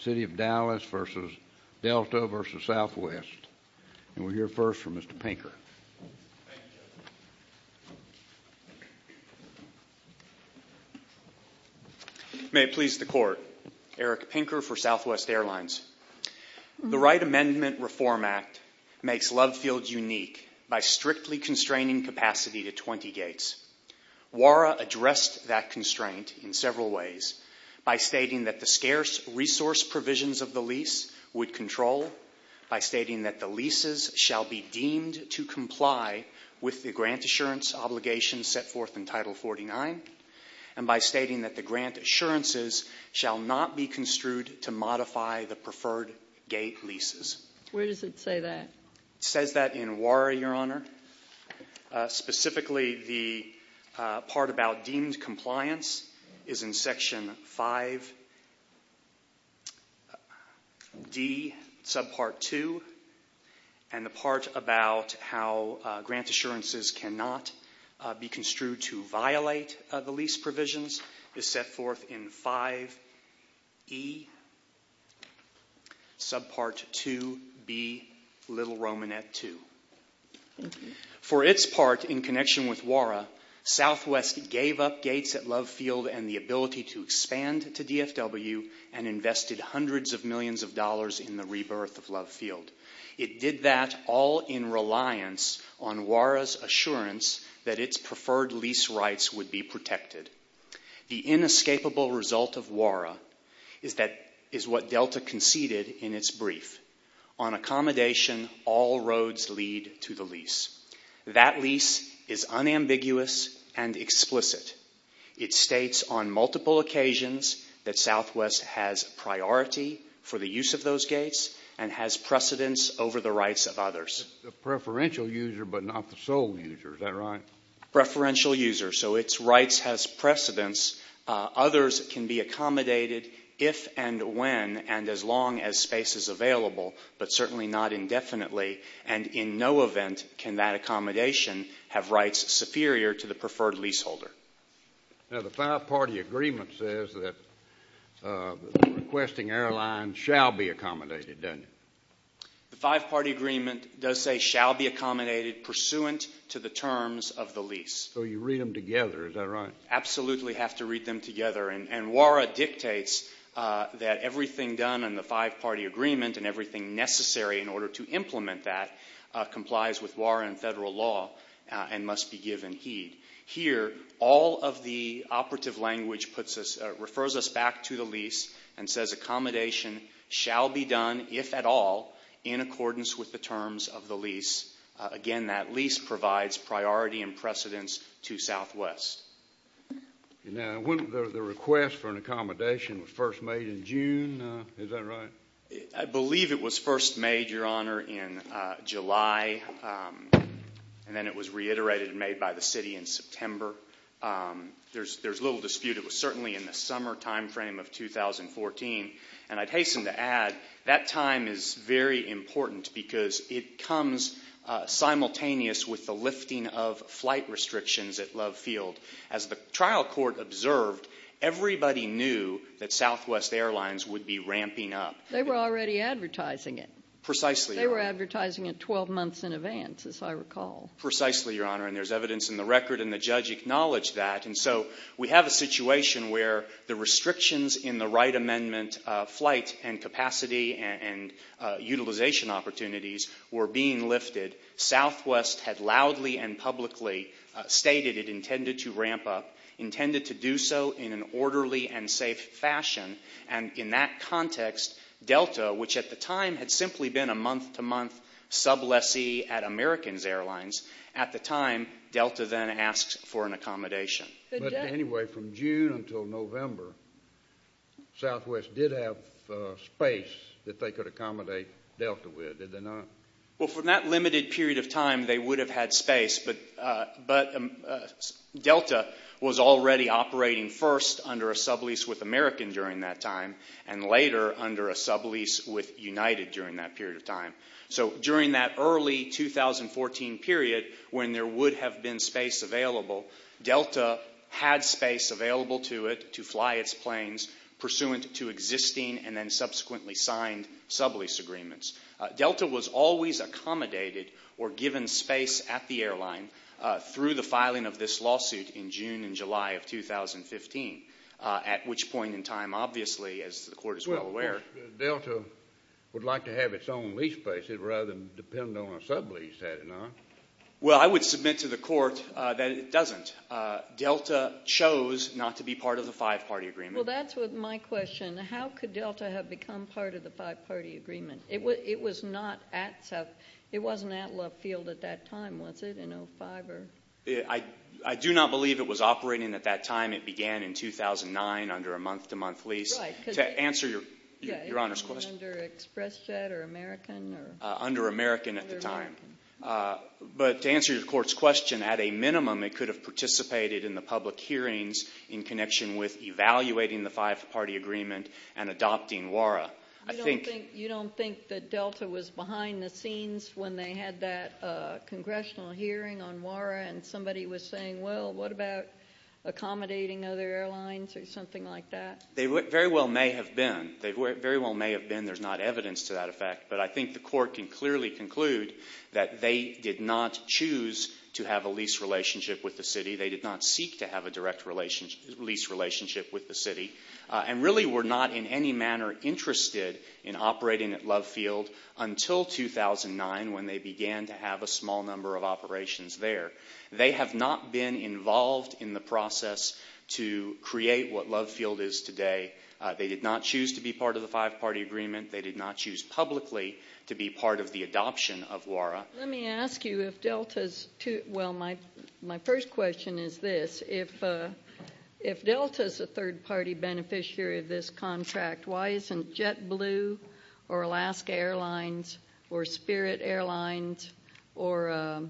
City of Dallas v. Delta v. Southwest, and we'll hear first from Mr. Pinker. May it please the Court. Eric Pinker for Southwest Airlines. The Right Amendment Reform Act makes Love Field unique by strictly constraining capacity to 20 gates. WARA addressed that constraint in several ways, by stating that the scarce resource provisions of the lease would control, by stating that the leases shall be deemed to comply with the grant assurance obligations set forth in Title 49, and by stating that the grant assurances shall not be construed to modify the preferred gate leases. Where does it say that? It says that in WARA, Your Honor. Specifically, the part about deemed compliance is in Section 5D, Subpart 2, and the part about how grant assurances cannot be construed to violate the lease provisions is set forth in 5E, Subpart 2B, Little Romanette II. For its part, in connection with WARA, Southwest gave up gates at Love Field and the ability to expand to DFW and invested hundreds of millions of dollars in the rebirth of Love Field. It did that all in reliance on WARA's assurance that its preferred lease rights would be protected. The inescapable result of WARA is what Delta conceded in its brief. On accommodation, all roads lead to the lease. That lease is unambiguous and explicit. It states on multiple occasions that Southwest has priority for the use of those gates and has precedence over the rights of others. A preferential user, but not the sole user. Is that right? Preferential user, so its rights has precedence. Others can be accommodated if and when and as long as space is available, but certainly not indefinitely, and in no event can that accommodation have rights superior to the preferred leaseholder. Now, the five-party agreement says that requesting airlines shall be accommodated, doesn't it? The five-party agreement does say shall be accommodated pursuant to the terms of the lease. So you read them together. Is that right? Absolutely have to read them together, and WARA dictates that everything done in the five-party agreement and everything necessary in order to implement that complies with WARA and federal law and must be given heed. Here, all of the operative language refers us back to the lease and says accommodation shall be done, if at all, in accordance with the terms of the lease. Again, that lease provides priority and precedence to Southwest. Now, the request for an accommodation was first made in June. Is that right? I believe it was first made, Your Honor, in July, and then it was reiterated and made by the city in September. There's little dispute it was certainly in the summer time frame of 2014, and I'd hasten to add that time is very important because it comes simultaneous with the lifting of flight restrictions at Love Field. As the trial court observed, everybody knew that Southwest Airlines would be ramping up. They were already advertising it. Precisely, Your Honor. They were advertising it 12 months in advance, as I recall. Precisely, Your Honor, and there's evidence in the record, and the judge acknowledged that. And so we have a situation where the restrictions in the Wright Amendment flight and capacity and utilization opportunities were being lifted. Southwest had loudly and publicly stated it intended to ramp up, intended to do so in an orderly and safe fashion, and in that context, Delta, which at the time had simply been a month-to-month sub lessee at Americans Airlines, at the time, Delta then asked for an accommodation. But anyway, from June until November, Southwest did have space that they could accommodate Delta with, did they not? Well, for that limited period of time, they would have had space, but Delta was already operating first under a sublease with American during that time and later under a sublease with United during that period of time. So during that early 2014 period when there would have been space available, Delta had space available to it to fly its planes pursuant to existing and then subsequently signed sublease agreements. Delta was always accommodated or given space at the airline through the filing of this lawsuit in June and July of 2015, at which point in time, obviously, as the Court is well aware. Well, Delta would like to have its own lease space rather than depend on a sublease, had it not. Well, I would submit to the Court that it doesn't. Delta chose not to be part of the five-party agreement. Well, that's my question. How could Delta have become part of the five-party agreement? It wasn't at Love Field at that time, was it, in 2005? I do not believe it was operating at that time. It began in 2009 under a month-to-month lease. To answer Your Honor's question. Under Expressjet or American? Under American at the time. But to answer your Court's question, at a minimum, it could have participated in the public hearings in connection with evaluating the five-party agreement and adopting WARA. You don't think that Delta was behind the scenes when they had that congressional hearing on WARA and somebody was saying, well, what about accommodating other airlines or something like that? They very well may have been. They very well may have been. There's not evidence to that effect. But I think the Court can clearly conclude that they did not choose to have a lease relationship with the city. They did not seek to have a direct lease relationship with the city and really were not in any manner interested in operating at Love Field until 2009 when they began to have a small number of operations there. They have not been involved in the process to create what Love Field is today. They did not choose to be part of the five-party agreement. They did not choose publicly to be part of the adoption of WARA. Let me ask you if Delta's, well, my first question is this. If Delta's a third-party beneficiary of this contract, why isn't JetBlue or Alaska Airlines or Spirit Airlines or,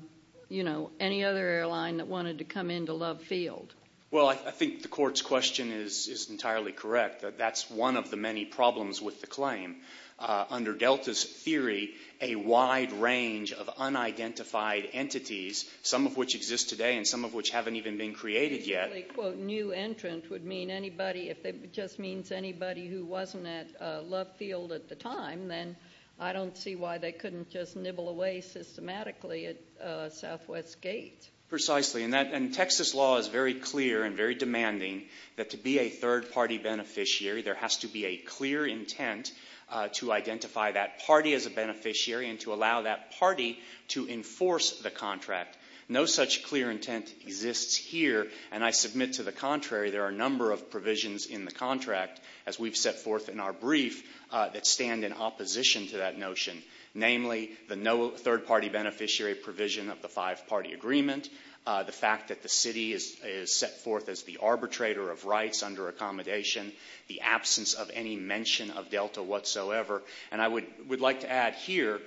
you know, any other airline that wanted to come into Love Field? Well, I think the Court's question is entirely correct. That's one of the many problems with the claim. Under Delta's theory, a wide range of unidentified entities, some of which exist today and some of which haven't even been created yet. Well, a new entrant would mean anybody, if it just means anybody who wasn't at Love Field at the time, then I don't see why they couldn't just nibble away systematically at Southwest Gate. Precisely. And Texas law is very clear and very demanding that to be a third-party beneficiary, there has to be a clear intent to identify that party as a beneficiary and to allow that party to enforce the contract. No such clear intent exists here. And I submit to the contrary, there are a number of provisions in the contract, as we've set forth in our brief, that stand in opposition to that notion, namely the no third-party beneficiary provision of the five-party agreement, the fact that the city is set forth as the arbitrator of rights under accommodation, the absence of any mention of Delta whatsoever. And I would like to add here,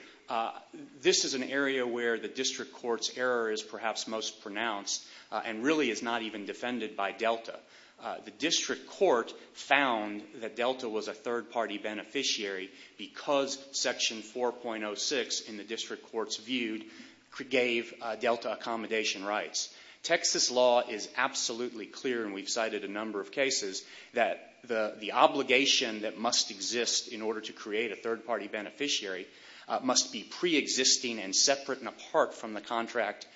this is an area where the district court's error is perhaps most pronounced and really is not even defended by Delta. The district court found that Delta was a third-party beneficiary because Section 4.06 in the district court's view gave Delta accommodation rights. Texas law is absolutely clear, and we've cited a number of cases, that the obligation that must exist in order to create a third-party beneficiary must be preexisting and separate and apart from the contract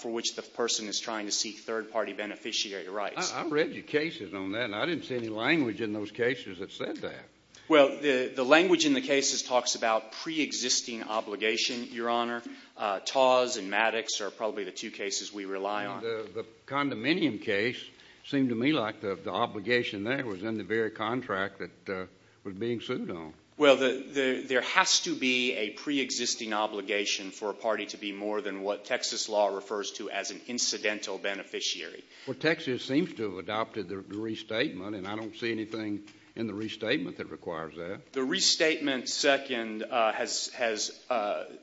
for which the person is trying to seek third-party beneficiary rights. I read your cases on that, and I didn't see any language in those cases that said that. Well, the language in the cases talks about preexisting obligation, Your Honor. Taz and Maddox are probably the two cases we rely on. The condominium case seemed to me like the obligation there was in the very contract that was being sued on. Well, there has to be a preexisting obligation for a party to be more than what Texas law refers to as an incidental beneficiary. Well, Texas seems to have adopted the restatement, and I don't see anything in the restatement that requires that. The restatement, second, has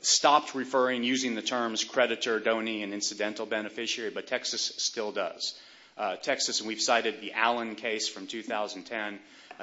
stopped referring, using the terms creditor, donee, and incidental beneficiary, but Texas still does. Texas, and we've cited the Allen case from 2010,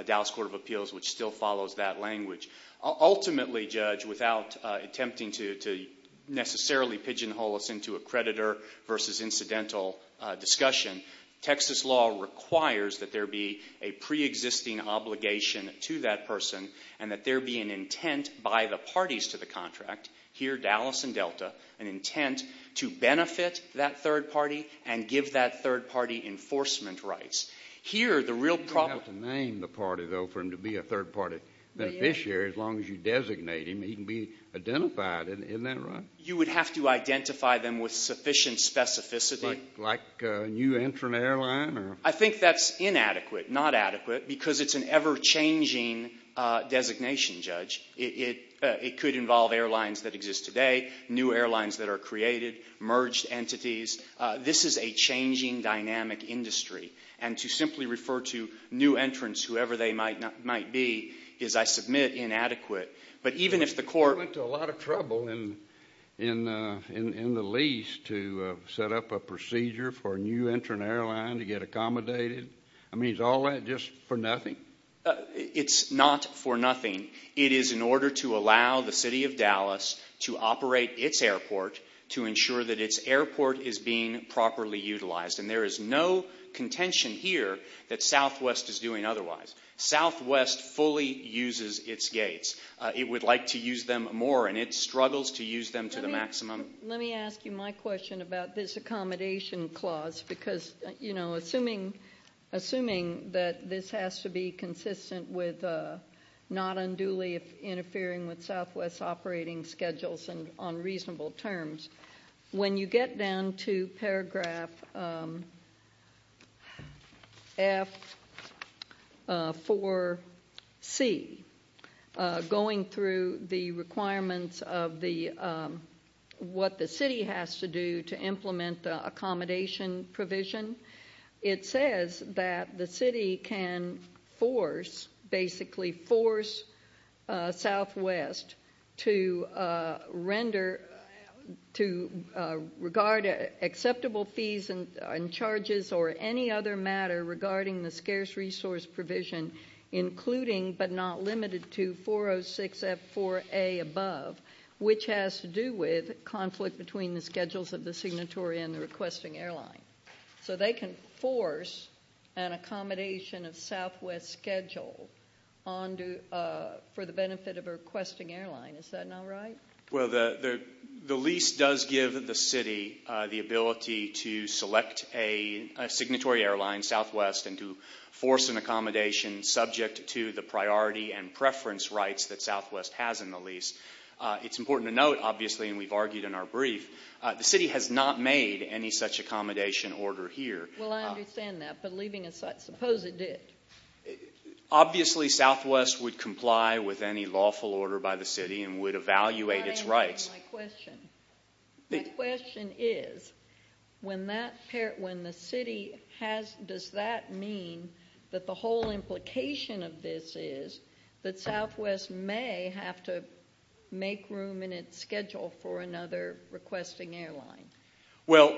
Dallas Court of Appeals, which still follows that language. Ultimately, Judge, without attempting to necessarily pigeonhole us into a creditor versus incidental discussion, Texas law requires that there be a preexisting obligation to that person and that there be an intent by the parties to the contract, here Dallas and Delta, an intent to benefit that third party and give that third party enforcement rights. Here, the real problem — You don't have to name the party, though, for him to be a third-party beneficiary as long as you designate him. He can be identified. Isn't that right? You would have to identify them with sufficient specificity. Like a new entrant airline? I think that's inadequate, not adequate, because it's an ever-changing designation, Judge. It could involve airlines that exist today, new airlines that are created, merged entities. This is a changing dynamic industry, and to simply refer to new entrants, whoever they might be, is, I submit, inadequate. You went to a lot of trouble in the lease to set up a procedure for a new entrant airline to get accommodated. I mean, is all that just for nothing? It's not for nothing. It is in order to allow the city of Dallas to operate its airport to ensure that its airport is being properly utilized. And there is no contention here that Southwest is doing otherwise. Southwest fully uses its gates. It would like to use them more, and it struggles to use them to the maximum. Let me ask you my question about this accommodation clause, because, you know, assuming that this has to be consistent with not unduly interfering with Southwest's operating schedules on reasonable terms, when you get down to paragraph F4C, going through the requirements of what the city has to do to implement the accommodation provision, it says that the city can force, basically force Southwest to render, to regard acceptable fees and charges or any other matter regarding the scarce resource provision, including but not limited to 406F4A above, which has to do with conflict between the schedules of the signatory and the requesting airline. So they can force an accommodation of Southwest's schedule for the benefit of a requesting airline. Is that not right? Well, the lease does give the city the ability to select a signatory airline, Southwest, and to force an accommodation subject to the priority and preference rights that Southwest has in the lease. It's important to note, obviously, and we've argued in our brief, the city has not made any such accommodation order here. Well, I understand that, but leaving aside – suppose it did. Obviously, Southwest would comply with any lawful order by the city and would evaluate its rights. My question is, when the city has – does that mean that the whole implication of this is that Southwest may have to make room in its schedule for another requesting airline? Well,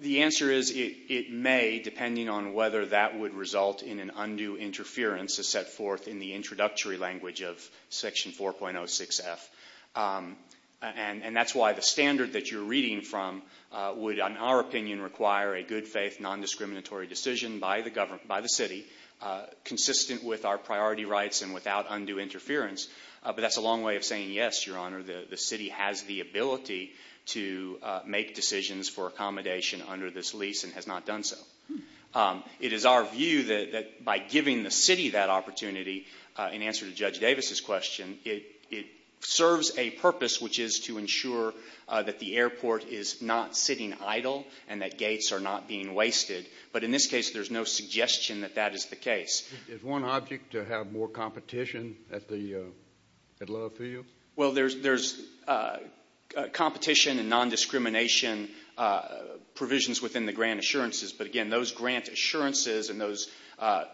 the answer is it may, depending on whether that would result in an undue interference as set forth in the introductory language of Section 4.06F. And that's why the standard that you're reading from would, in our opinion, require a good-faith, non-discriminatory decision by the city, consistent with our priority rights and without undue interference. But that's a long way of saying, yes, Your Honor, the city has the ability to make decisions for accommodation under this lease and has not done so. It is our view that by giving the city that opportunity, in answer to Judge Davis's question, it serves a purpose, which is to ensure that the airport is not sitting idle and that gates are not being wasted. But in this case, there's no suggestion that that is the case. Is one object to have more competition at Love Field? Well, there's competition and non-discrimination provisions within the grant assurances. But, again, those grant assurances and those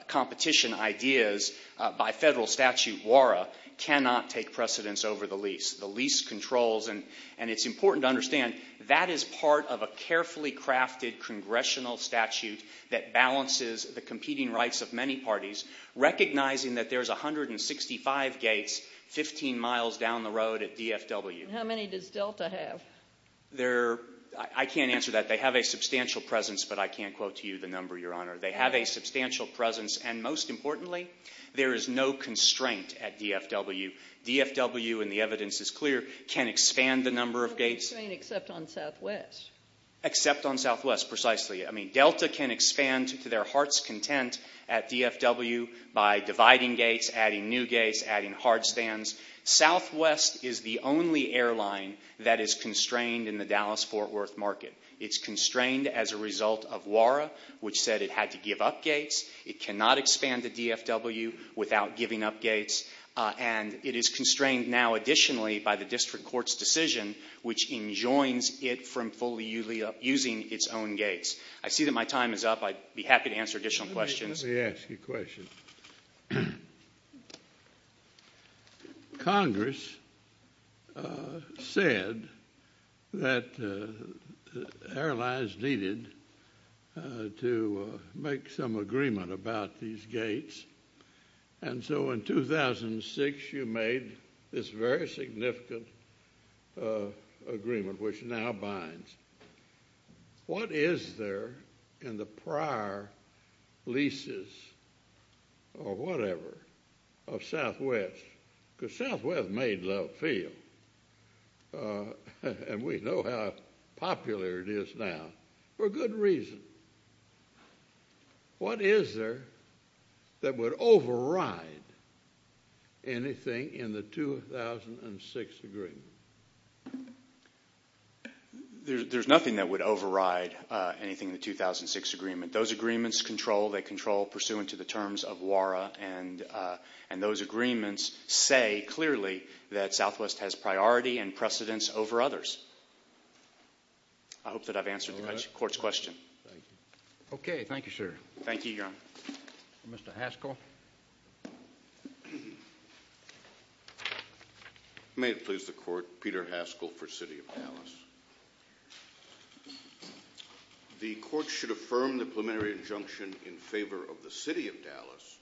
competition ideas by Federal statute WARA cannot take precedence over the lease. The lease controls, and it's important to understand, that is part of a carefully crafted congressional statute that balances the competing rights of many parties, recognizing that there's 165 gates 15 miles down the road at DFW. How many does Delta have? I can't answer that. They have a substantial presence, but I can't quote to you the number, Your Honor. They have a substantial presence, and most importantly, there is no constraint at DFW. DFW, and the evidence is clear, can expand the number of gates. No constraint except on Southwest. Except on Southwest, precisely. I mean, Delta can expand to their heart's content at DFW by dividing gates, adding new gates, adding hard stands. Southwest is the only airline that is constrained in the Dallas-Fort Worth market. It's constrained as a result of WARA, which said it had to give up gates. It cannot expand to DFW without giving up gates. And it is constrained now, additionally, by the district court's decision, which enjoins it from fully using its own gates. I see that my time is up. I'd be happy to answer additional questions. Let me ask you a question. Congress said that airlines needed to make some agreement about these gates, and so in 2006 you made this very significant agreement, which now binds. What is there in the prior leases or whatever of Southwest? Because Southwest made Love Field, and we know how popular it is now, for good reason. What is there that would override anything in the 2006 agreement? There's nothing that would override anything in the 2006 agreement. Those agreements control pursuant to the terms of WARA, and those agreements say clearly that Southwest has priority and precedence over others. I hope that I've answered the court's question. Okay. Thank you, sir. Thank you, Your Honor. Mr. Haskell. May it please the court, Peter Haskell for City of Dallas. The court should affirm the preliminary injunction in favor of the City of Dallas,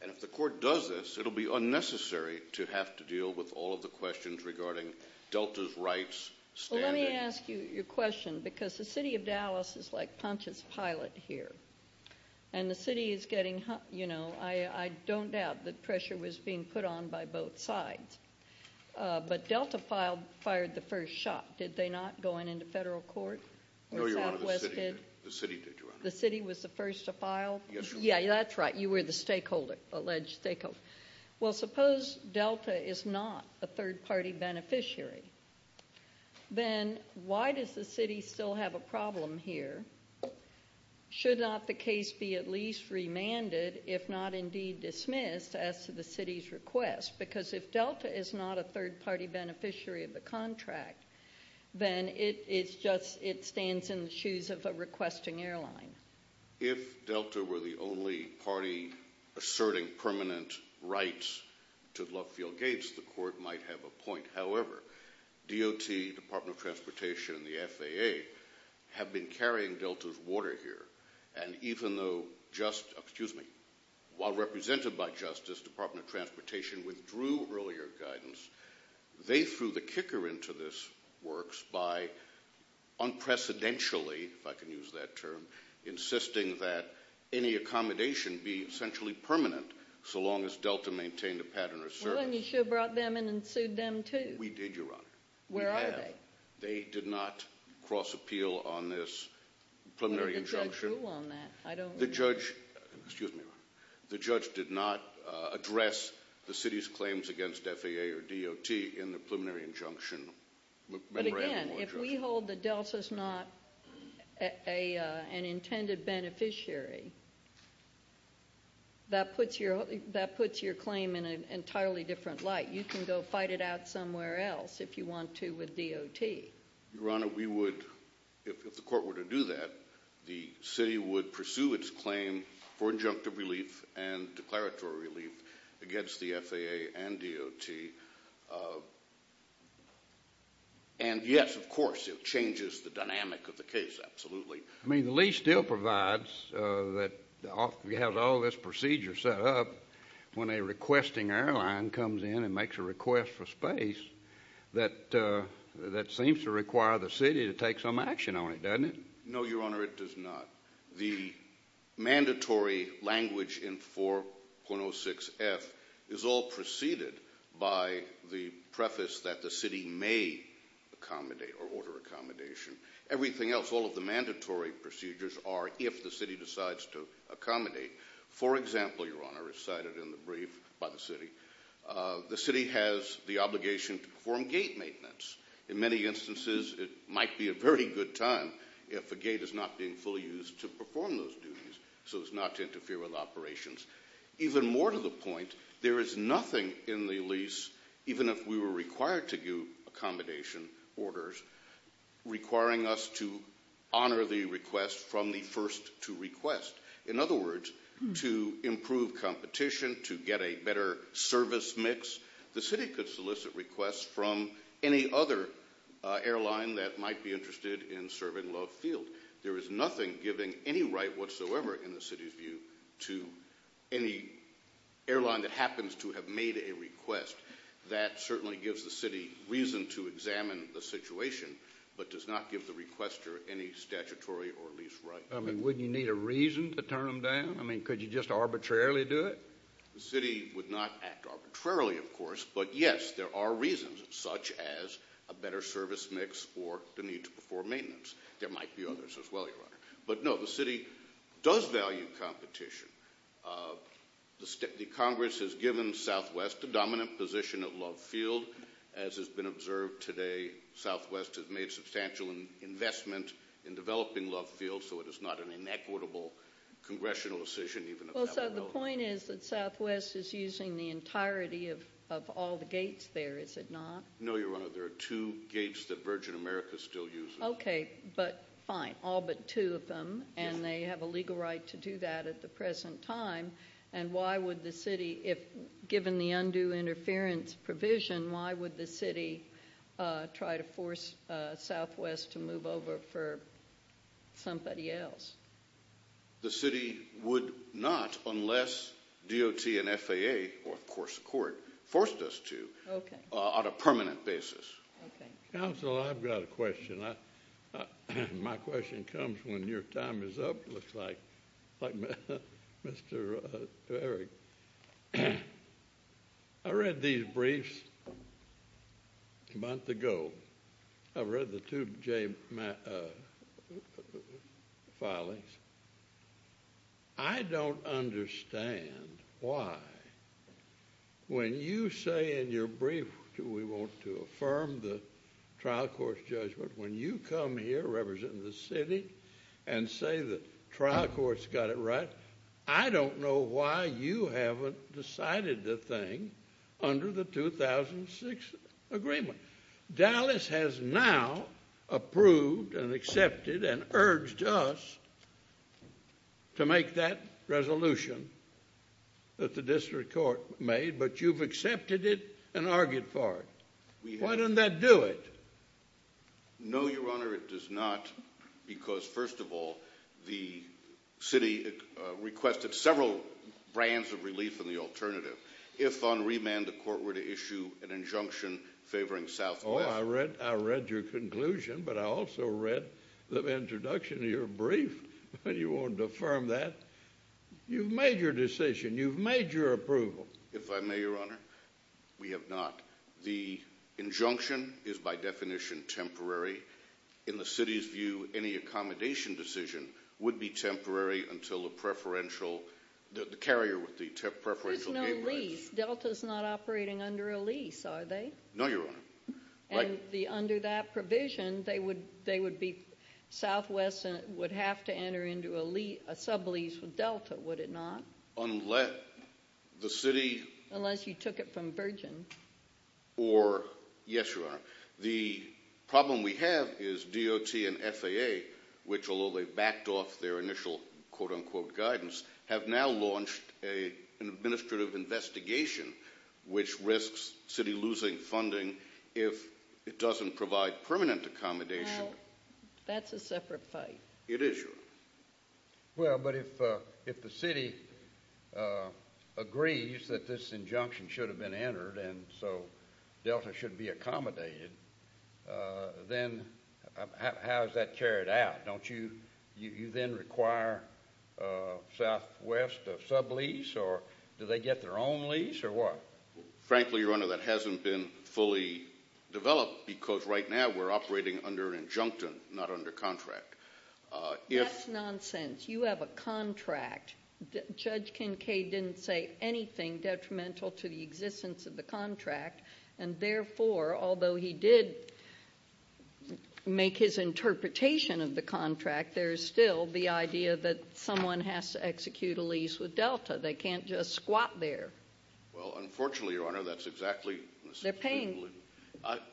and if the court does this, it will be unnecessary to have to deal with all of the questions regarding Delta's rights standard. Well, let me ask you your question, because the City of Dallas is like Pontius Pilate here, and the city is getting, you know, I don't doubt that pressure was being put on by both sides, but Delta fired the first shot. Did they not, going into federal court? No, Your Honor. The city did, Your Honor. The city was the first to file? Yes, Your Honor. Yeah, that's right. You were the stakeholder, alleged stakeholder. Well, suppose Delta is not a third-party beneficiary. Then why does the city still have a problem here? Should not the case be at least remanded, if not indeed dismissed, as to the city's request? Because if Delta is not a third-party beneficiary of the contract, then it stands in the shoes of a requesting airline. If Delta were the only party asserting permanent rights to Luffield Gates, the court might have a point. However, DOT, Department of Transportation, and the FAA have been carrying Delta's water here, and even though just—excuse me—while represented by Justice, Department of Transportation withdrew earlier guidance. They threw the kicker into this works by unprecedentedly, if I can use that term, insisting that any accommodation be essentially permanent so long as Delta maintained a pattern of service. Well, then you should have brought them in and sued them, too. We did, Your Honor. We have. Where are they? They did not cross-appeal on this preliminary injunction. What did the judge rule on that? I don't— The judge—excuse me, Your Honor—the judge did not address the city's claims against FAA or DOT in the preliminary injunction. But again, if we hold that Delta's not an intended beneficiary, that puts your claim in an entirely different light. You can go fight it out somewhere else if you want to with DOT. Your Honor, we would—if the court were to do that, the city would pursue its claim for injunctive relief and declaratory relief against the FAA and DOT. And yes, of course, it changes the dynamic of the case, absolutely. I mean, the lease still provides that you have all this procedure set up. When a requesting airline comes in and makes a request for space, that seems to require the city to take some action on it, doesn't it? No, Your Honor, it does not. The mandatory language in 4.06F is all preceded by the preface that the city may accommodate or order accommodation. Everything else, all of the mandatory procedures are if the city decides to accommodate. For example, Your Honor, as cited in the brief by the city, the city has the obligation to perform gate maintenance. In many instances, it might be a very good time if a gate is not being fully used to perform those duties so as not to interfere with operations. Even more to the point, there is nothing in the lease, even if we were required to do accommodation orders, requiring us to honor the request from the first to request. In other words, to improve competition, to get a better service mix, the city could solicit requests from any other airline that might be interested in serving Love Field. There is nothing giving any right whatsoever in the city's view to any airline that happens to have made a request. That certainly gives the city reason to examine the situation but does not give the requester any statutory or lease right. I mean, wouldn't you need a reason to turn them down? I mean, could you just arbitrarily do it? The city would not act arbitrarily, of course, but yes, there are reasons, such as a better service mix or the need to perform maintenance. There might be others as well, Your Honor. But no, the city does value competition. The Congress has given Southwest a dominant position at Love Field. As has been observed today, Southwest has made substantial investment in developing Love Field, so it is not an inequitable congressional decision, even if that were the case. Well, so the point is that Southwest is using the entirety of all the gates there, is it not? No, Your Honor, there are two gates that Virgin America still uses. Okay, but fine, all but two of them, and they have a legal right to do that at the present time. And why would the city, given the undue interference provision, why would the city try to force Southwest to move over for somebody else? The city would not unless DOT and FAA, or of course the court, forced us to on a permanent basis. My question comes when your time is up, it looks like, to Eric. I read these briefs a month ago. I read the two J filings. I don't understand why, when you say in your brief, we want to affirm the trial court's judgment, when you come here representing the city and say the trial court's got it right, I don't know why you haven't decided the thing under the 2006 agreement. Dallas has now approved and accepted and urged us to make that resolution that the district court made, but you've accepted it and argued for it. Why doesn't that do it? No, Your Honor, it does not, because first of all, the city requested several brands of relief in the alternative. If on remand the court were to issue an injunction favoring Southwest. Oh, I read your conclusion, but I also read the introduction of your brief, and you wanted to affirm that. You've made your decision. You've made your approval. If I may, Your Honor, we have not. The injunction is by definition temporary. In the city's view, any accommodation decision would be temporary until the preferential, the carrier with the preferential game rights. There's no lease. Delta's not operating under a lease, are they? No, Your Honor. And under that provision, Southwest would have to enter into a sub-lease with Delta, would it not? Unless the city. Unless you took it from Virgin. Or, yes, Your Honor. The problem we have is DOT and FAA, which although they backed off their initial quote-unquote guidance, have now launched an administrative investigation which risks city losing funding if it doesn't provide permanent accommodation. Now, that's a separate fight. It is, Your Honor. Well, but if the city agrees that this injunction should have been entered and so Delta should be accommodated, then how is that carried out? Don't you then require Southwest a sub-lease or do they get their own lease or what? Frankly, Your Honor, that hasn't been fully developed because right now we're operating under an injunction, not under contract. That's nonsense. You have a contract. Judge Kincaid didn't say anything detrimental to the existence of the contract, and therefore, although he did make his interpretation of the contract, there is still the idea that someone has to execute a lease with Delta. They can't just squat there. Well, unfortunately, Your Honor, that's exactly the situation. They're paying.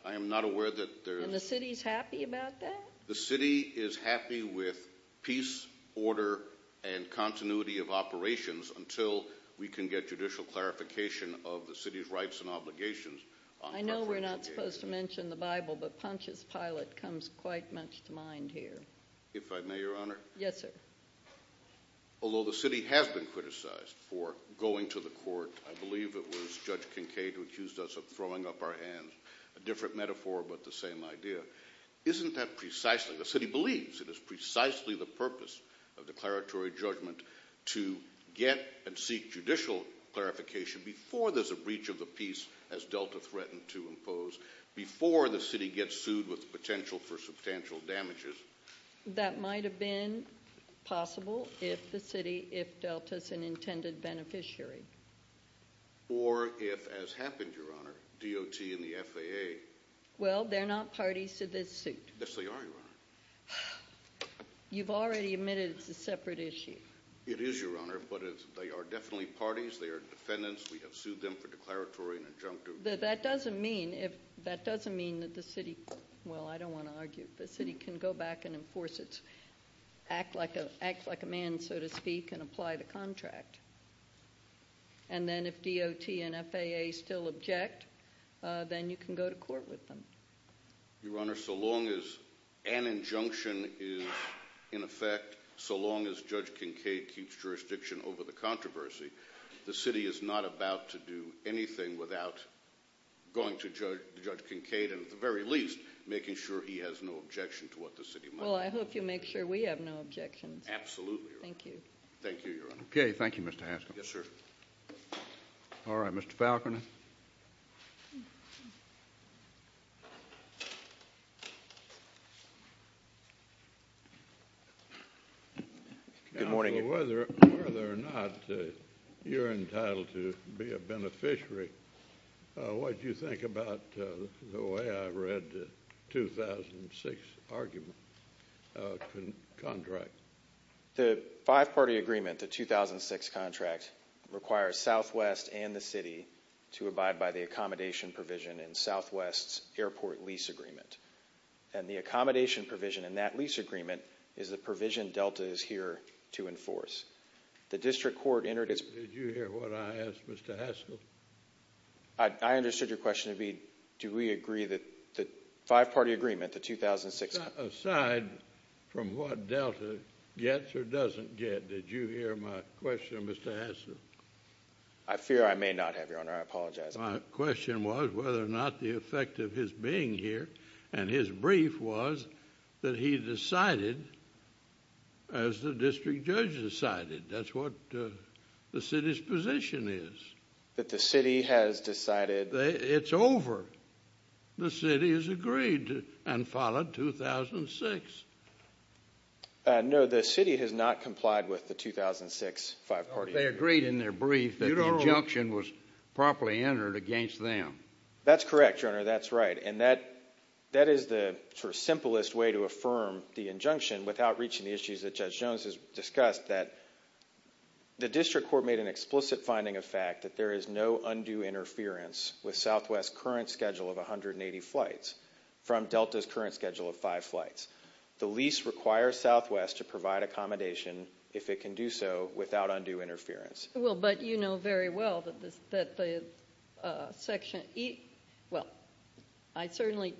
I am not aware that there is. And the city is happy about that? The city is happy with peace, order, and continuity of operations until we can get judicial clarification of the city's rights and obligations. I know we're not supposed to mention the Bible, but Pontius Pilate comes quite much to mind here. If I may, Your Honor? Yes, sir. Although the city has been criticized for going to the court, I believe it was Judge Kincaid who accused us of throwing up our hands, a different metaphor but the same idea. Isn't that precisely, the city believes it is precisely the purpose of declaratory judgment to get and seek judicial clarification before there's a breach of the peace, as Delta threatened to impose, before the city gets sued with potential for substantial damages? That might have been possible if the city, if Delta is an intended beneficiary. Or if, as happened, Your Honor, DOT and the FAA. Well, they're not parties to this suit. Yes, they are, Your Honor. You've already admitted it's a separate issue. It is, Your Honor, but they are definitely parties. They are defendants. We have sued them for declaratory and injunctive. That doesn't mean that the city, well, I don't want to argue, the city can go back and enforce its, act like a man, so to speak, and apply the contract. And then if DOT and FAA still object, then you can go to court with them. Your Honor, so long as an injunction is in effect, so long as Judge Kincaid keeps jurisdiction over the controversy, the city is not about to do anything without going to Judge Kincaid, and at the very least, making sure he has no objection to what the city might do. Well, I hope you make sure we have no objections. Absolutely, Your Honor. Thank you. Thank you, Your Honor. Okay, thank you, Mr. Haskel. Yes, sir. All right, Mr. Falconer. Good morning. Whether or not you're entitled to be a beneficiary, what do you think about the way I read the 2006 argument contract? The five-party agreement, the 2006 contract, requires Southwest and the city to abide by the accommodation provision in Southwest's airport lease agreement. And the accommodation provision in that lease agreement is the provision Delta is here to enforce. The district court entered its… Did you hear what I asked, Mr. Haskel? I understood your question to be, do we agree that the five-party agreement, the 2006… Aside from what Delta gets or doesn't get, did you hear my question, Mr. Haskel? I fear I may not have, Your Honor. I apologize. My question was whether or not the effect of his being here and his brief was that he decided as the district judge decided. That's what the city's position is. That the city has decided… It's over. The city has agreed and followed 2006. No, the city has not complied with the 2006 five-party agreement. They agreed in their brief that the injunction was properly entered against them. That's correct, Your Honor. That's right. And that is the sort of simplest way to affirm the injunction without reaching the issues that Judge Jones has discussed, that the district court made an explicit finding of fact that there is no undue interference with Southwest's current schedule of 180 flights from Delta's current schedule of five flights. The lease requires Southwest to provide accommodation, if it can do so, without undue interference. Well, but you know very well that the section… Well, I certainly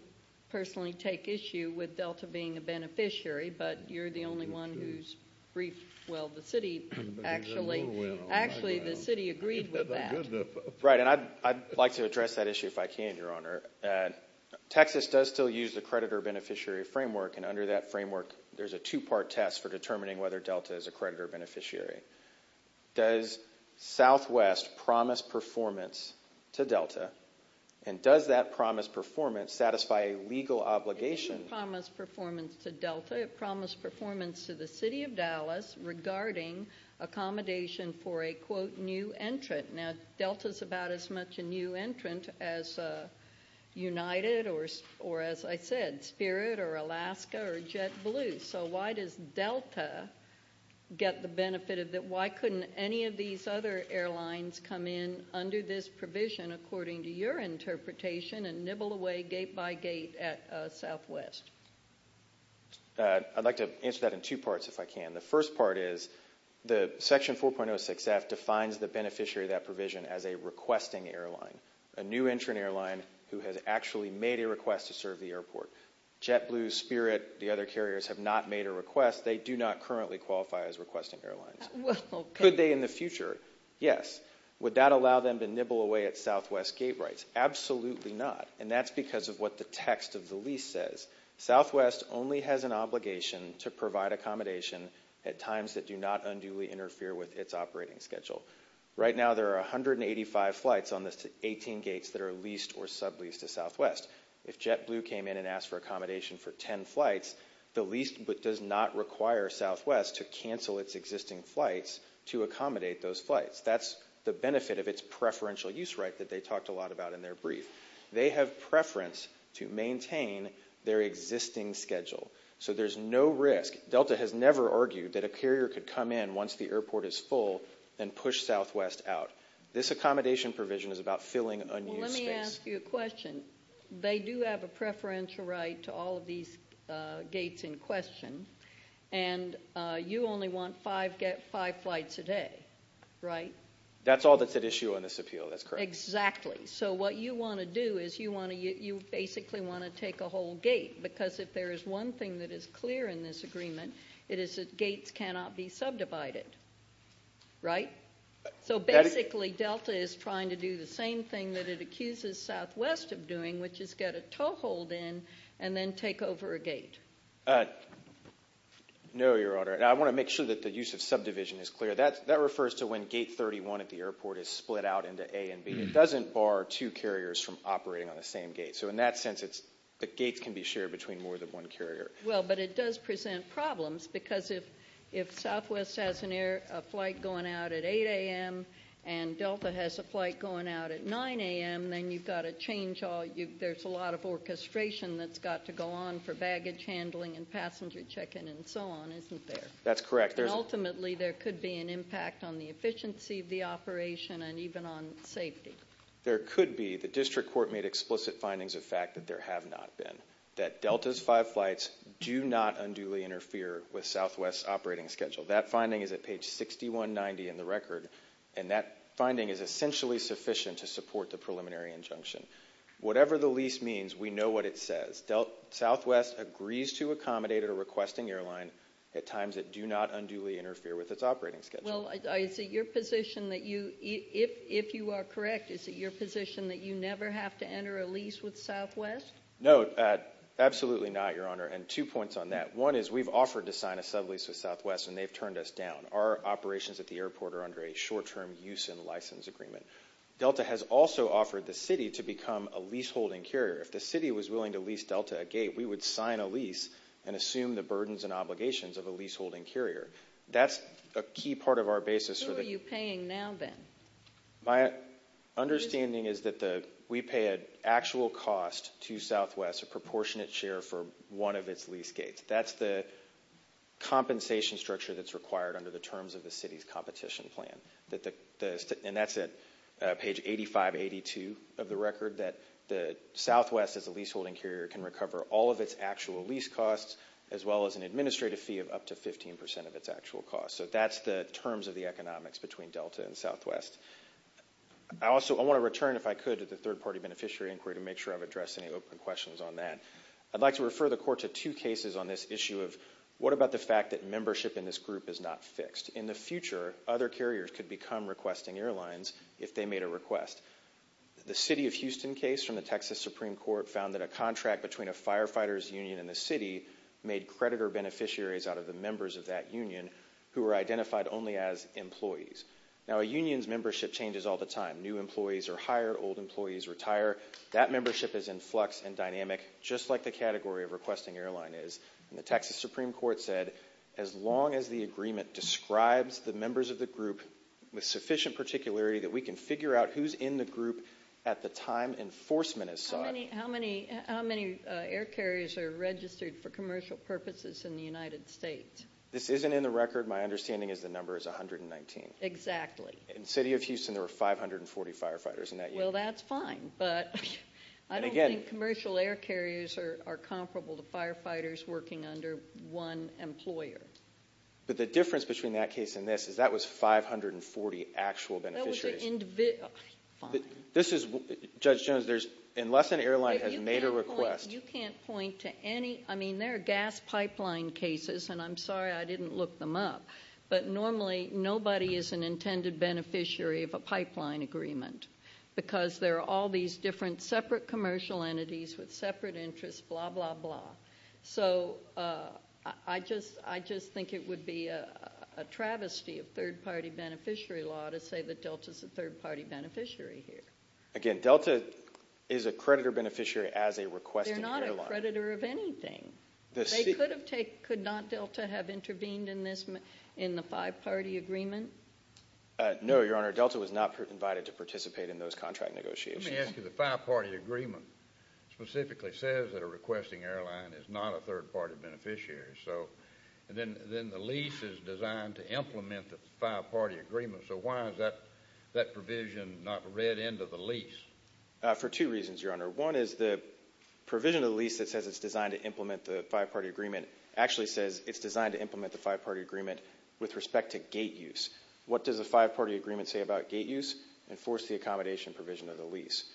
personally take issue with Delta being a beneficiary, but you're the only one who's briefed… Actually, the city agreed with that. Right, and I'd like to address that issue if I can, Your Honor. Texas does still use the creditor-beneficiary framework, and under that framework there's a two-part test for determining whether Delta is a creditor-beneficiary. Does Southwest promise performance to Delta, and does that promised performance satisfy a legal obligation? It didn't promise performance to Delta. It promised performance to the city of Dallas regarding accommodation for a, quote, new entrant. Now, Delta's about as much a new entrant as United or, as I said, Spirit or Alaska or JetBlue. So why does Delta get the benefit of that? Why couldn't any of these other airlines come in under this provision, according to your interpretation, and nibble away gate by gate at Southwest? I'd like to answer that in two parts if I can. The first part is the Section 4.06F defines the beneficiary of that provision as a requesting airline, a new entrant airline who has actually made a request to serve the airport. JetBlue, Spirit, the other carriers have not made a request. They do not currently qualify as requesting airlines. Could they in the future? Yes. Would that allow them to nibble away at Southwest gate rights? Absolutely not, and that's because of what the text of the lease says. Southwest only has an obligation to provide accommodation at times that do not unduly interfere with its operating schedule. Right now there are 185 flights on the 18 gates that are leased or subleased to Southwest. If JetBlue came in and asked for accommodation for 10 flights, the lease does not require Southwest to cancel its existing flights to accommodate those flights. That's the benefit of its preferential use right that they talked a lot about in their brief. They have preference to maintain their existing schedule, so there's no risk. Delta has never argued that a carrier could come in once the airport is full and push Southwest out. This accommodation provision is about filling unused space. Well, let me ask you a question. They do have a preferential right to all of these gates in question, and you only want five flights a day, right? That's all that's at issue on this appeal. That's correct. Exactly. So what you want to do is you basically want to take a whole gate, because if there is one thing that is clear in this agreement, it is that gates cannot be subdivided, right? So basically Delta is trying to do the same thing that it accuses Southwest of doing, which is get a toehold in and then take over a gate. No, Your Honor. I want to make sure that the use of subdivision is clear. That refers to when gate 31 at the airport is split out into A and B. It doesn't bar two carriers from operating on the same gate. So in that sense, the gates can be shared between more than one carrier. Well, but it does present problems, because if Southwest has a flight going out at 8 a.m. and Delta has a flight going out at 9 a.m., then you've got to change all – there's a lot of orchestration that's got to go on for baggage handling and passenger check-in and so on, isn't there? That's correct. And ultimately, there could be an impact on the efficiency of the operation and even on safety. There could be. The district court made explicit findings of fact that there have not been, that Delta's five flights do not unduly interfere with Southwest's operating schedule. That finding is at page 6190 in the record, and that finding is essentially sufficient to support the preliminary injunction. Whatever the lease means, we know what it says. Southwest agrees to accommodate a requesting airline at times that do not unduly interfere with its operating schedule. Well, is it your position that you – if you are correct, is it your position that you never have to enter a lease with Southwest? No, absolutely not, Your Honor, and two points on that. One is we've offered to sign a sublease with Southwest, and they've turned us down. Our operations at the airport are under a short-term use and license agreement. If the city was willing to lease Delta a gate, we would sign a lease and assume the burdens and obligations of a leaseholding carrier. That's a key part of our basis. Who are you paying now, then? My understanding is that we pay an actual cost to Southwest, a proportionate share for one of its lease gates. That's the compensation structure that's required under the terms of the city's competition plan. And that's at page 8582 of the record, that Southwest, as a leaseholding carrier, can recover all of its actual lease costs as well as an administrative fee of up to 15% of its actual costs. So that's the terms of the economics between Delta and Southwest. I also want to return, if I could, to the third-party beneficiary inquiry to make sure I've addressed any open questions on that. I'd like to refer the Court to two cases on this issue of what about the fact that membership in this group is not fixed. In the future, other carriers could become requesting airlines if they made a request. The city of Houston case from the Texas Supreme Court found that a contract between a firefighter's union and the city made creditor beneficiaries out of the members of that union who were identified only as employees. Now, a union's membership changes all the time. New employees are hired, old employees retire. That membership is in flux and dynamic, just like the category of requesting airline is. The Texas Supreme Court said as long as the agreement describes the members of the group with sufficient particularity that we can figure out who's in the group at the time enforcement is sought. How many air carriers are registered for commercial purposes in the United States? This isn't in the record. My understanding is the number is 119. Exactly. In the city of Houston, there were 540 firefighters in that union. Well, that's fine, but I don't think commercial air carriers are comparable to firefighters working under one employer. But the difference between that case and this is that was 540 actual beneficiaries. That was an individual. This is, Judge Jones, unless an airline has made a request. You can't point to any. I mean, there are gas pipeline cases, and I'm sorry I didn't look them up. But normally nobody is an intended beneficiary of a pipeline agreement because there are all these different separate commercial entities with separate interests, blah, blah, blah. So I just think it would be a travesty of third-party beneficiary law to say that Delta is a third-party beneficiary here. Again, Delta is a creditor beneficiary as a requesting airline. They're not a creditor of anything. Could not Delta have intervened in the five-party agreement? No, Your Honor. Delta was not invited to participate in those contract negotiations. Let me ask you. The five-party agreement specifically says that a requesting airline is not a third-party beneficiary. Then the lease is designed to implement the five-party agreement. So why is that provision not read into the lease? For two reasons, Your Honor. One is the provision of the lease that says it's designed to implement the five-party agreement actually says it's designed to implement the five-party agreement with respect to gate use. What does a five-party agreement say about gate use? Enforce the accommodation provision of the lease.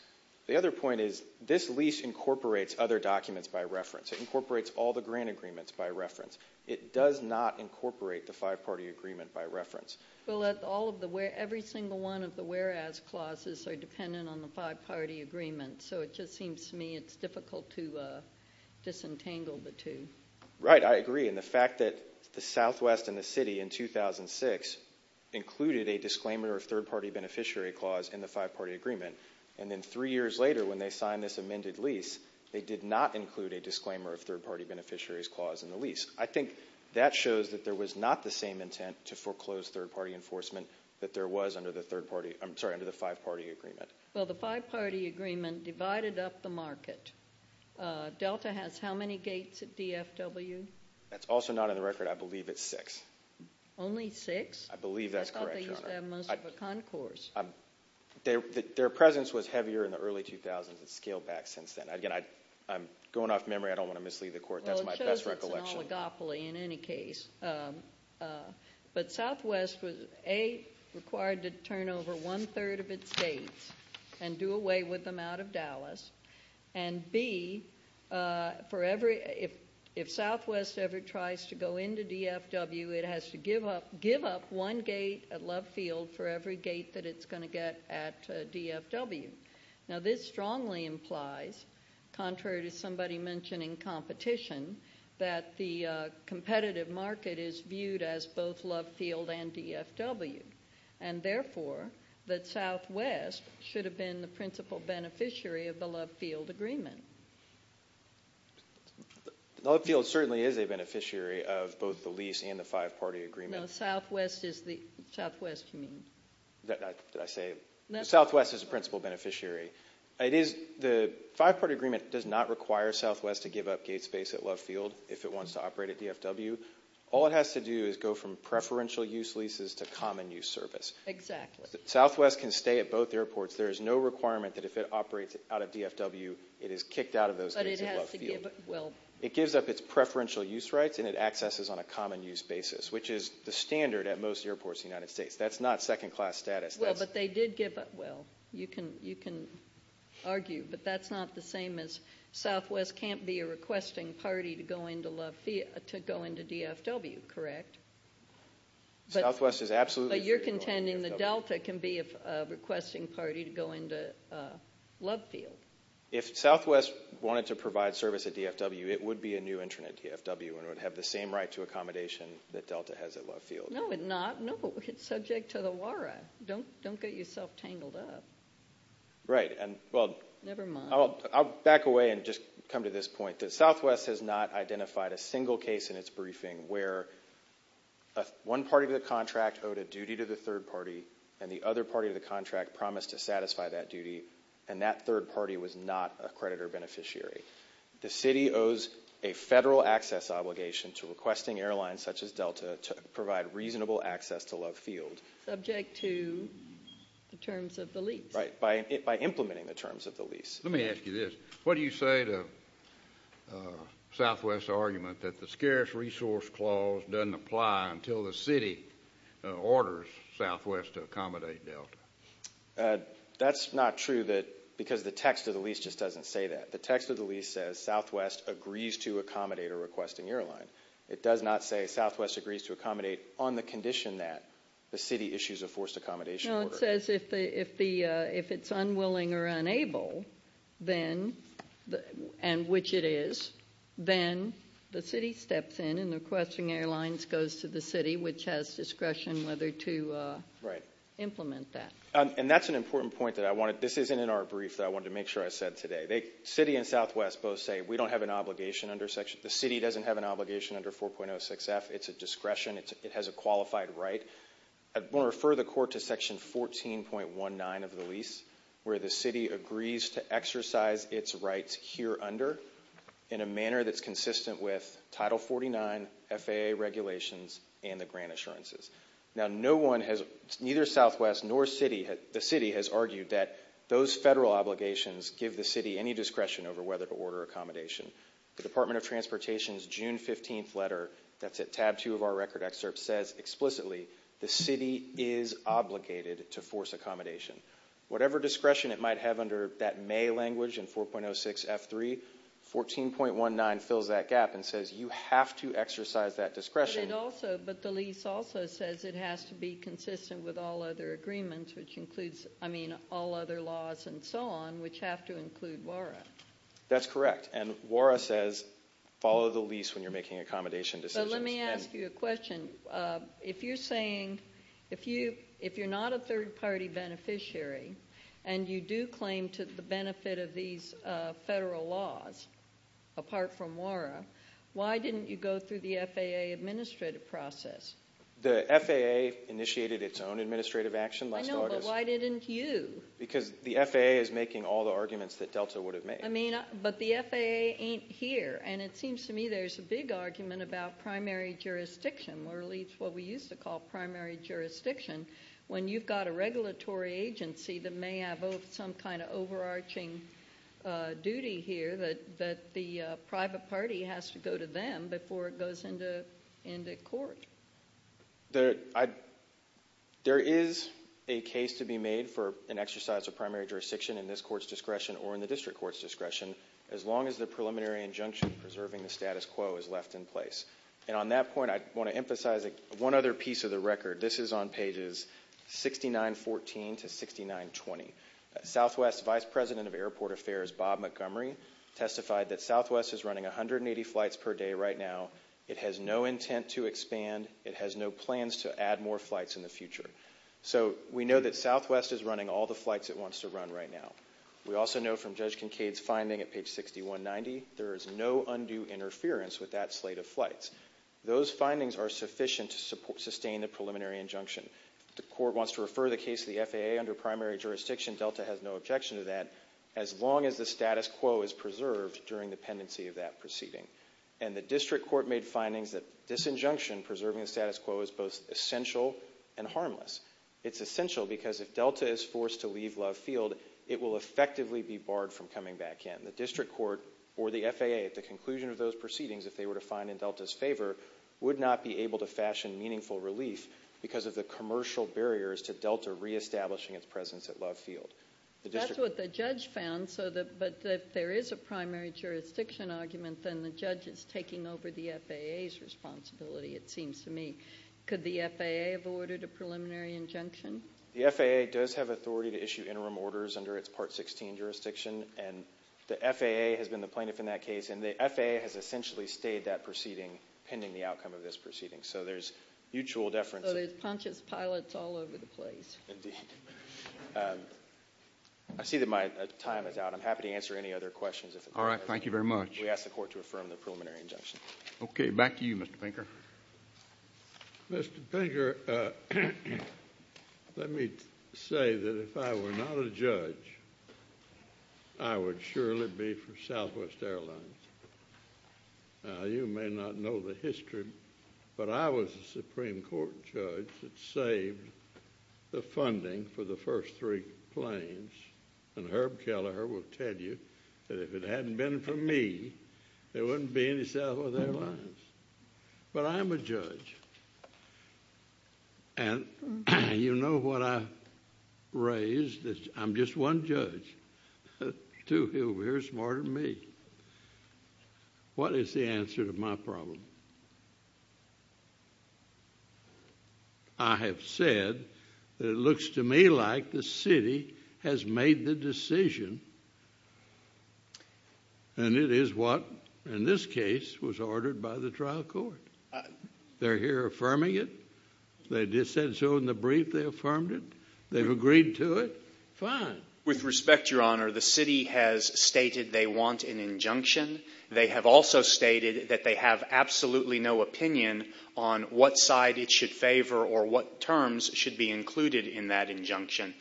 The other point is this lease incorporates other documents by reference. It incorporates all the grant agreements by reference. It does not incorporate the five-party agreement by reference. Well, every single one of the whereas clauses are dependent on the five-party agreement, so it just seems to me it's difficult to disentangle the two. Right. I agree. And the fact that the Southwest and the city in 2006 included a disclaimer of third-party beneficiary clause in the five-party agreement, and then three years later when they signed this amended lease, they did not include a disclaimer of third-party beneficiary's clause in the lease. I think that shows that there was not the same intent to foreclose third-party enforcement that there was under the five-party agreement. Well, the five-party agreement divided up the market. Delta has how many gates at DFW? That's also not on the record. I believe it's six. I believe that's correct, Your Honor. I thought they used to have most of a concourse. Their presence was heavier in the early 2000s. It's scaled back since then. Again, I'm going off memory. I don't want to mislead the Court. That's my best recollection. Well, it shows it's an oligopoly in any case. But Southwest was, A, required to turn over one-third of its gates and do away with them out of Dallas, and, B, if Southwest ever tries to go into DFW, it has to give up one gate at Love Field for every gate that it's going to get at DFW. Now, this strongly implies, contrary to somebody mentioning competition, that the competitive market is viewed as both Love Field and DFW, and, therefore, that Southwest should have been the principal beneficiary of the Love Field agreement. Love Field certainly is a beneficiary of both the lease and the five-party agreement. No, Southwest is the—Southwest, you mean. Did I say it? Southwest is the principal beneficiary. The five-party agreement does not require Southwest to give up gate space at Love Field if it wants to operate at DFW. All it has to do is go from preferential-use leases to common-use service. Exactly. Southwest can stay at both airports. There is no requirement that if it operates out of DFW, it is kicked out of those gates at Love Field. But it has to give—well— It gives up its preferential-use rights, and it accesses on a common-use basis, which is the standard at most airports in the United States. That's not second-class status. Well, but they did give up—well, you can argue, but that's not the same as Southwest can't be a requesting party to go into DFW, correct? Southwest is absolutely free to go into DFW. But you're contending that Delta can be a requesting party to go into Love Field. If Southwest wanted to provide service at DFW, it would be a new intern at DFW and would have the same right to accommodation that Delta has at Love Field. No, it's not. All right. Don't get yourself tangled up. Right. And, well— Never mind. I'll back away and just come to this point, that Southwest has not identified a single case in its briefing where one party of the contract owed a duty to the third party, and the other party of the contract promised to satisfy that duty, and that third party was not a creditor beneficiary. The city owes a federal access obligation to requesting airlines such as Delta to provide reasonable access to Love Field. Subject to the terms of the lease. Right. By implementing the terms of the lease. Let me ask you this. What do you say to Southwest's argument that the scarce resource clause doesn't apply until the city orders Southwest to accommodate Delta? That's not true because the text of the lease just doesn't say that. The text of the lease says Southwest agrees to accommodate a requesting airline. It does not say Southwest agrees to accommodate on the condition that the city issues a forced accommodation order. No, it says if it's unwilling or unable, and which it is, then the city steps in and the requesting airlines goes to the city, which has discretion whether to implement that. Right. And that's an important point that I wanted—this isn't in our brief that I wanted to make sure I said today. The city and Southwest both say we don't have an obligation under Section—the city doesn't have an obligation under 4.06F. It's a discretion. It has a qualified right. I want to refer the court to Section 14.19 of the lease, where the city agrees to exercise its rights here under in a manner that's consistent with Title 49, FAA regulations, and the grant assurances. Now, no one has—neither Southwest nor the city has argued that those federal obligations give the city any discretion over whether to order accommodation. The Department of Transportation's June 15th letter, that's at tab 2 of our record excerpt, says explicitly the city is obligated to force accommodation. Whatever discretion it might have under that May language in 4.06F.3, 14.19 fills that gap and says you have to exercise that discretion. But it also—but the lease also says it has to be consistent with all other agreements, which includes—I mean, all other laws and so on, which have to include WARA. That's correct. And WARA says follow the lease when you're making accommodation decisions. But let me ask you a question. If you're saying—if you're not a third-party beneficiary and you do claim to the benefit of these federal laws, apart from WARA, why didn't you go through the FAA administrative process? The FAA initiated its own administrative action last August. I know, but why didn't you? Because the FAA is making all the arguments that DELTA would have made. I mean, but the FAA ain't here, and it seems to me there's a big argument about primary jurisdiction, or at least what we used to call primary jurisdiction, when you've got a regulatory agency that may have some kind of overarching duty here that the private party has to go to them before it goes into court. There is a case to be made for an exercise of primary jurisdiction in this court's discretion or in the district court's discretion as long as the preliminary injunction preserving the status quo is left in place. And on that point, I want to emphasize one other piece of the record. This is on pages 6914 to 6920. Southwest Vice President of Airport Affairs Bob Montgomery testified that Southwest is running 180 flights per day right now. It has no intent to expand. It has no plans to add more flights in the future. So we know that Southwest is running all the flights it wants to run right now. We also know from Judge Kincaid's finding at page 6190 there is no undue interference with that slate of flights. Those findings are sufficient to sustain the preliminary injunction. If the court wants to refer the case to the FAA under primary jurisdiction, Delta has no objection to that as long as the status quo is preserved during the pendency of that proceeding. And the district court made findings that disinjunction preserving the status quo is both essential and harmless. It's essential because if Delta is forced to leave Love Field, it will effectively be barred from coming back in. The district court or the FAA at the conclusion of those proceedings, if they were to find in Delta's favor, would not be able to fashion meaningful relief because of the commercial barriers to Delta reestablishing its presence at Love Field. That's what the judge found, but if there is a primary jurisdiction argument, then the judge is taking over the FAA's responsibility, it seems to me. Could the FAA have ordered a preliminary injunction? The FAA does have authority to issue interim orders under its Part 16 jurisdiction, and the FAA has been the plaintiff in that case, and the FAA has essentially stayed that proceeding pending the outcome of this proceeding. So there's mutual deference. Oh, there's Pontius Pilate all over the place. Indeed. I see that my time is out. I'm happy to answer any other questions. All right. Thank you very much. We ask the court to affirm the preliminary injunction. Okay. Back to you, Mr. Pinker. Mr. Pinker, let me say that if I were not a judge, I would surely be for Southwest Airlines. Now, you may not know the history, but I was a Supreme Court judge that saved the funding for the first three planes, and Herb Kelleher will tell you that if it hadn't been for me, there wouldn't be any Southwest Airlines. But I'm a judge, and you know what I raised? I'm just one judge. Two over here are smarter than me. What is the answer to my problem? I have said that it looks to me like the city has made the decision, and it is what, in this case, was ordered by the trial court. They're here affirming it. They said so in the brief they affirmed it. They've agreed to it. Fine. With respect, Your Honor, the city has stated they want an injunction. They have also stated that they have absolutely no opinion on what side it should favor or what terms should be included in that injunction.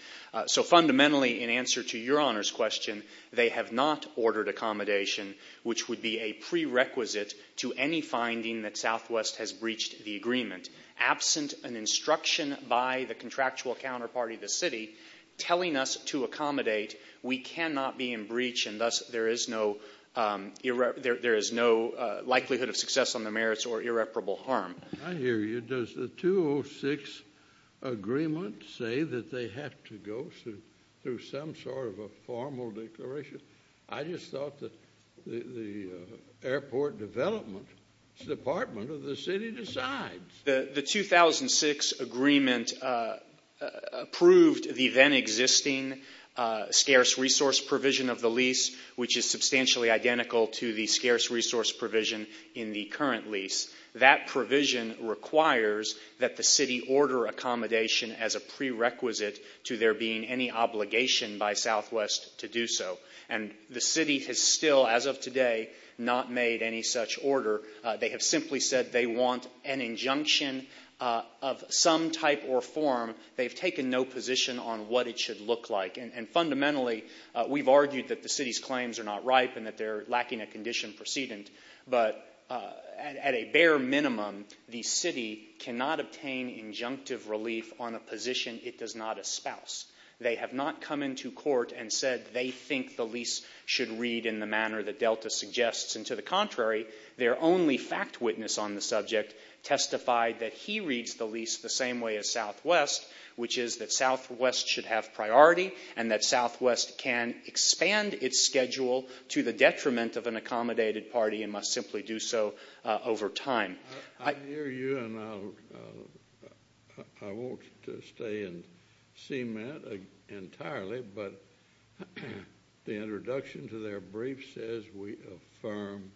So fundamentally, in answer to Your Honor's question, they have not ordered accommodation, which would be a prerequisite to any finding that Southwest has breached the agreement. Absent an instruction by the contractual counterparty of the city telling us to accommodate, we cannot be in breach, and thus there is no likelihood of success on the merits or irreparable harm. I hear you. Does the 2006 agreement say that they have to go through some sort of a formal declaration? I just thought that the airport development department of the city decides. The 2006 agreement approved the then existing scarce resource provision of the lease, which is substantially identical to the scarce resource provision in the current lease. That provision requires that the city order accommodation as a prerequisite to there being any obligation by Southwest to do so. And the city has still, as of today, not made any such order. They have simply said they want an injunction of some type or form. They've taken no position on what it should look like. And fundamentally, we've argued that the city's claims are not ripe and that they're lacking a condition precedent. But at a bare minimum, the city cannot obtain injunctive relief on a position it does not espouse. They have not come into court and said they think the lease should read in the manner that Delta suggests. And to the contrary, their only fact witness on the subject testified that he reads the lease the same way as Southwest, which is that Southwest should have priority and that Southwest can expand its schedule to the detriment of an accommodated party and must simply do so over time. I hear you and I won't stay and cement entirely, but the introduction to their brief says we affirm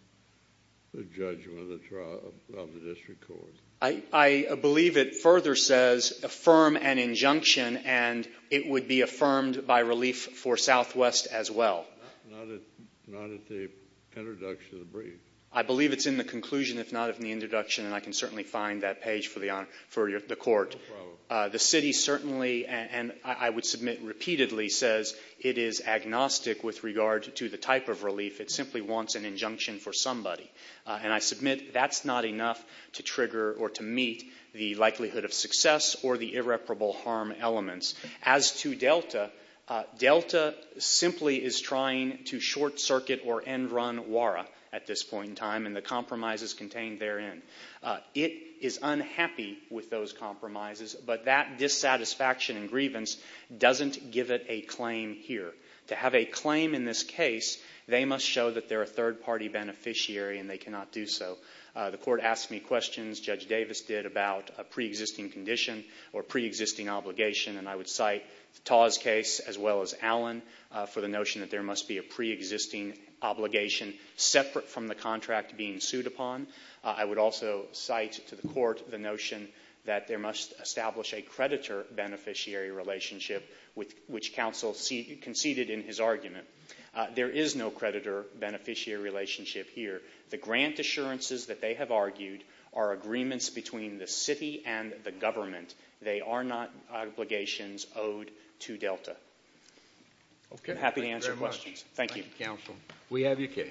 the judgment of the district court. I believe it further says affirm an injunction and it would be affirmed by relief for Southwest as well. Not at the introduction of the brief. I believe it's in the conclusion, if not in the introduction, and I can certainly find that page for the court. The city certainly, and I would submit repeatedly, says it is agnostic with regard to the type of relief. It simply wants an injunction for somebody. And I submit that's not enough to trigger or to meet the likelihood of success or the irreparable harm elements. As to Delta, Delta simply is trying to short-circuit or end-run WARA at this point in time and the compromises contained therein. It is unhappy with those compromises, but that dissatisfaction and grievance doesn't give it a claim here. To have a claim in this case, they must show that they're a third-party beneficiary and they cannot do so. The court asked me questions, Judge Davis did, about a preexisting condition or preexisting obligation, and I would cite Taw's case as well as Allen for the notion that there must be a preexisting obligation separate from the contract being sued upon. I would also cite to the court the notion that there must establish a creditor-beneficiary relationship, which counsel conceded in his argument. There is no creditor-beneficiary relationship here. The grant assurances that they have argued are agreements between the city and the government. They are not obligations owed to Delta. I'm happy to answer questions. Thank you. Thank you, counsel. We have your case.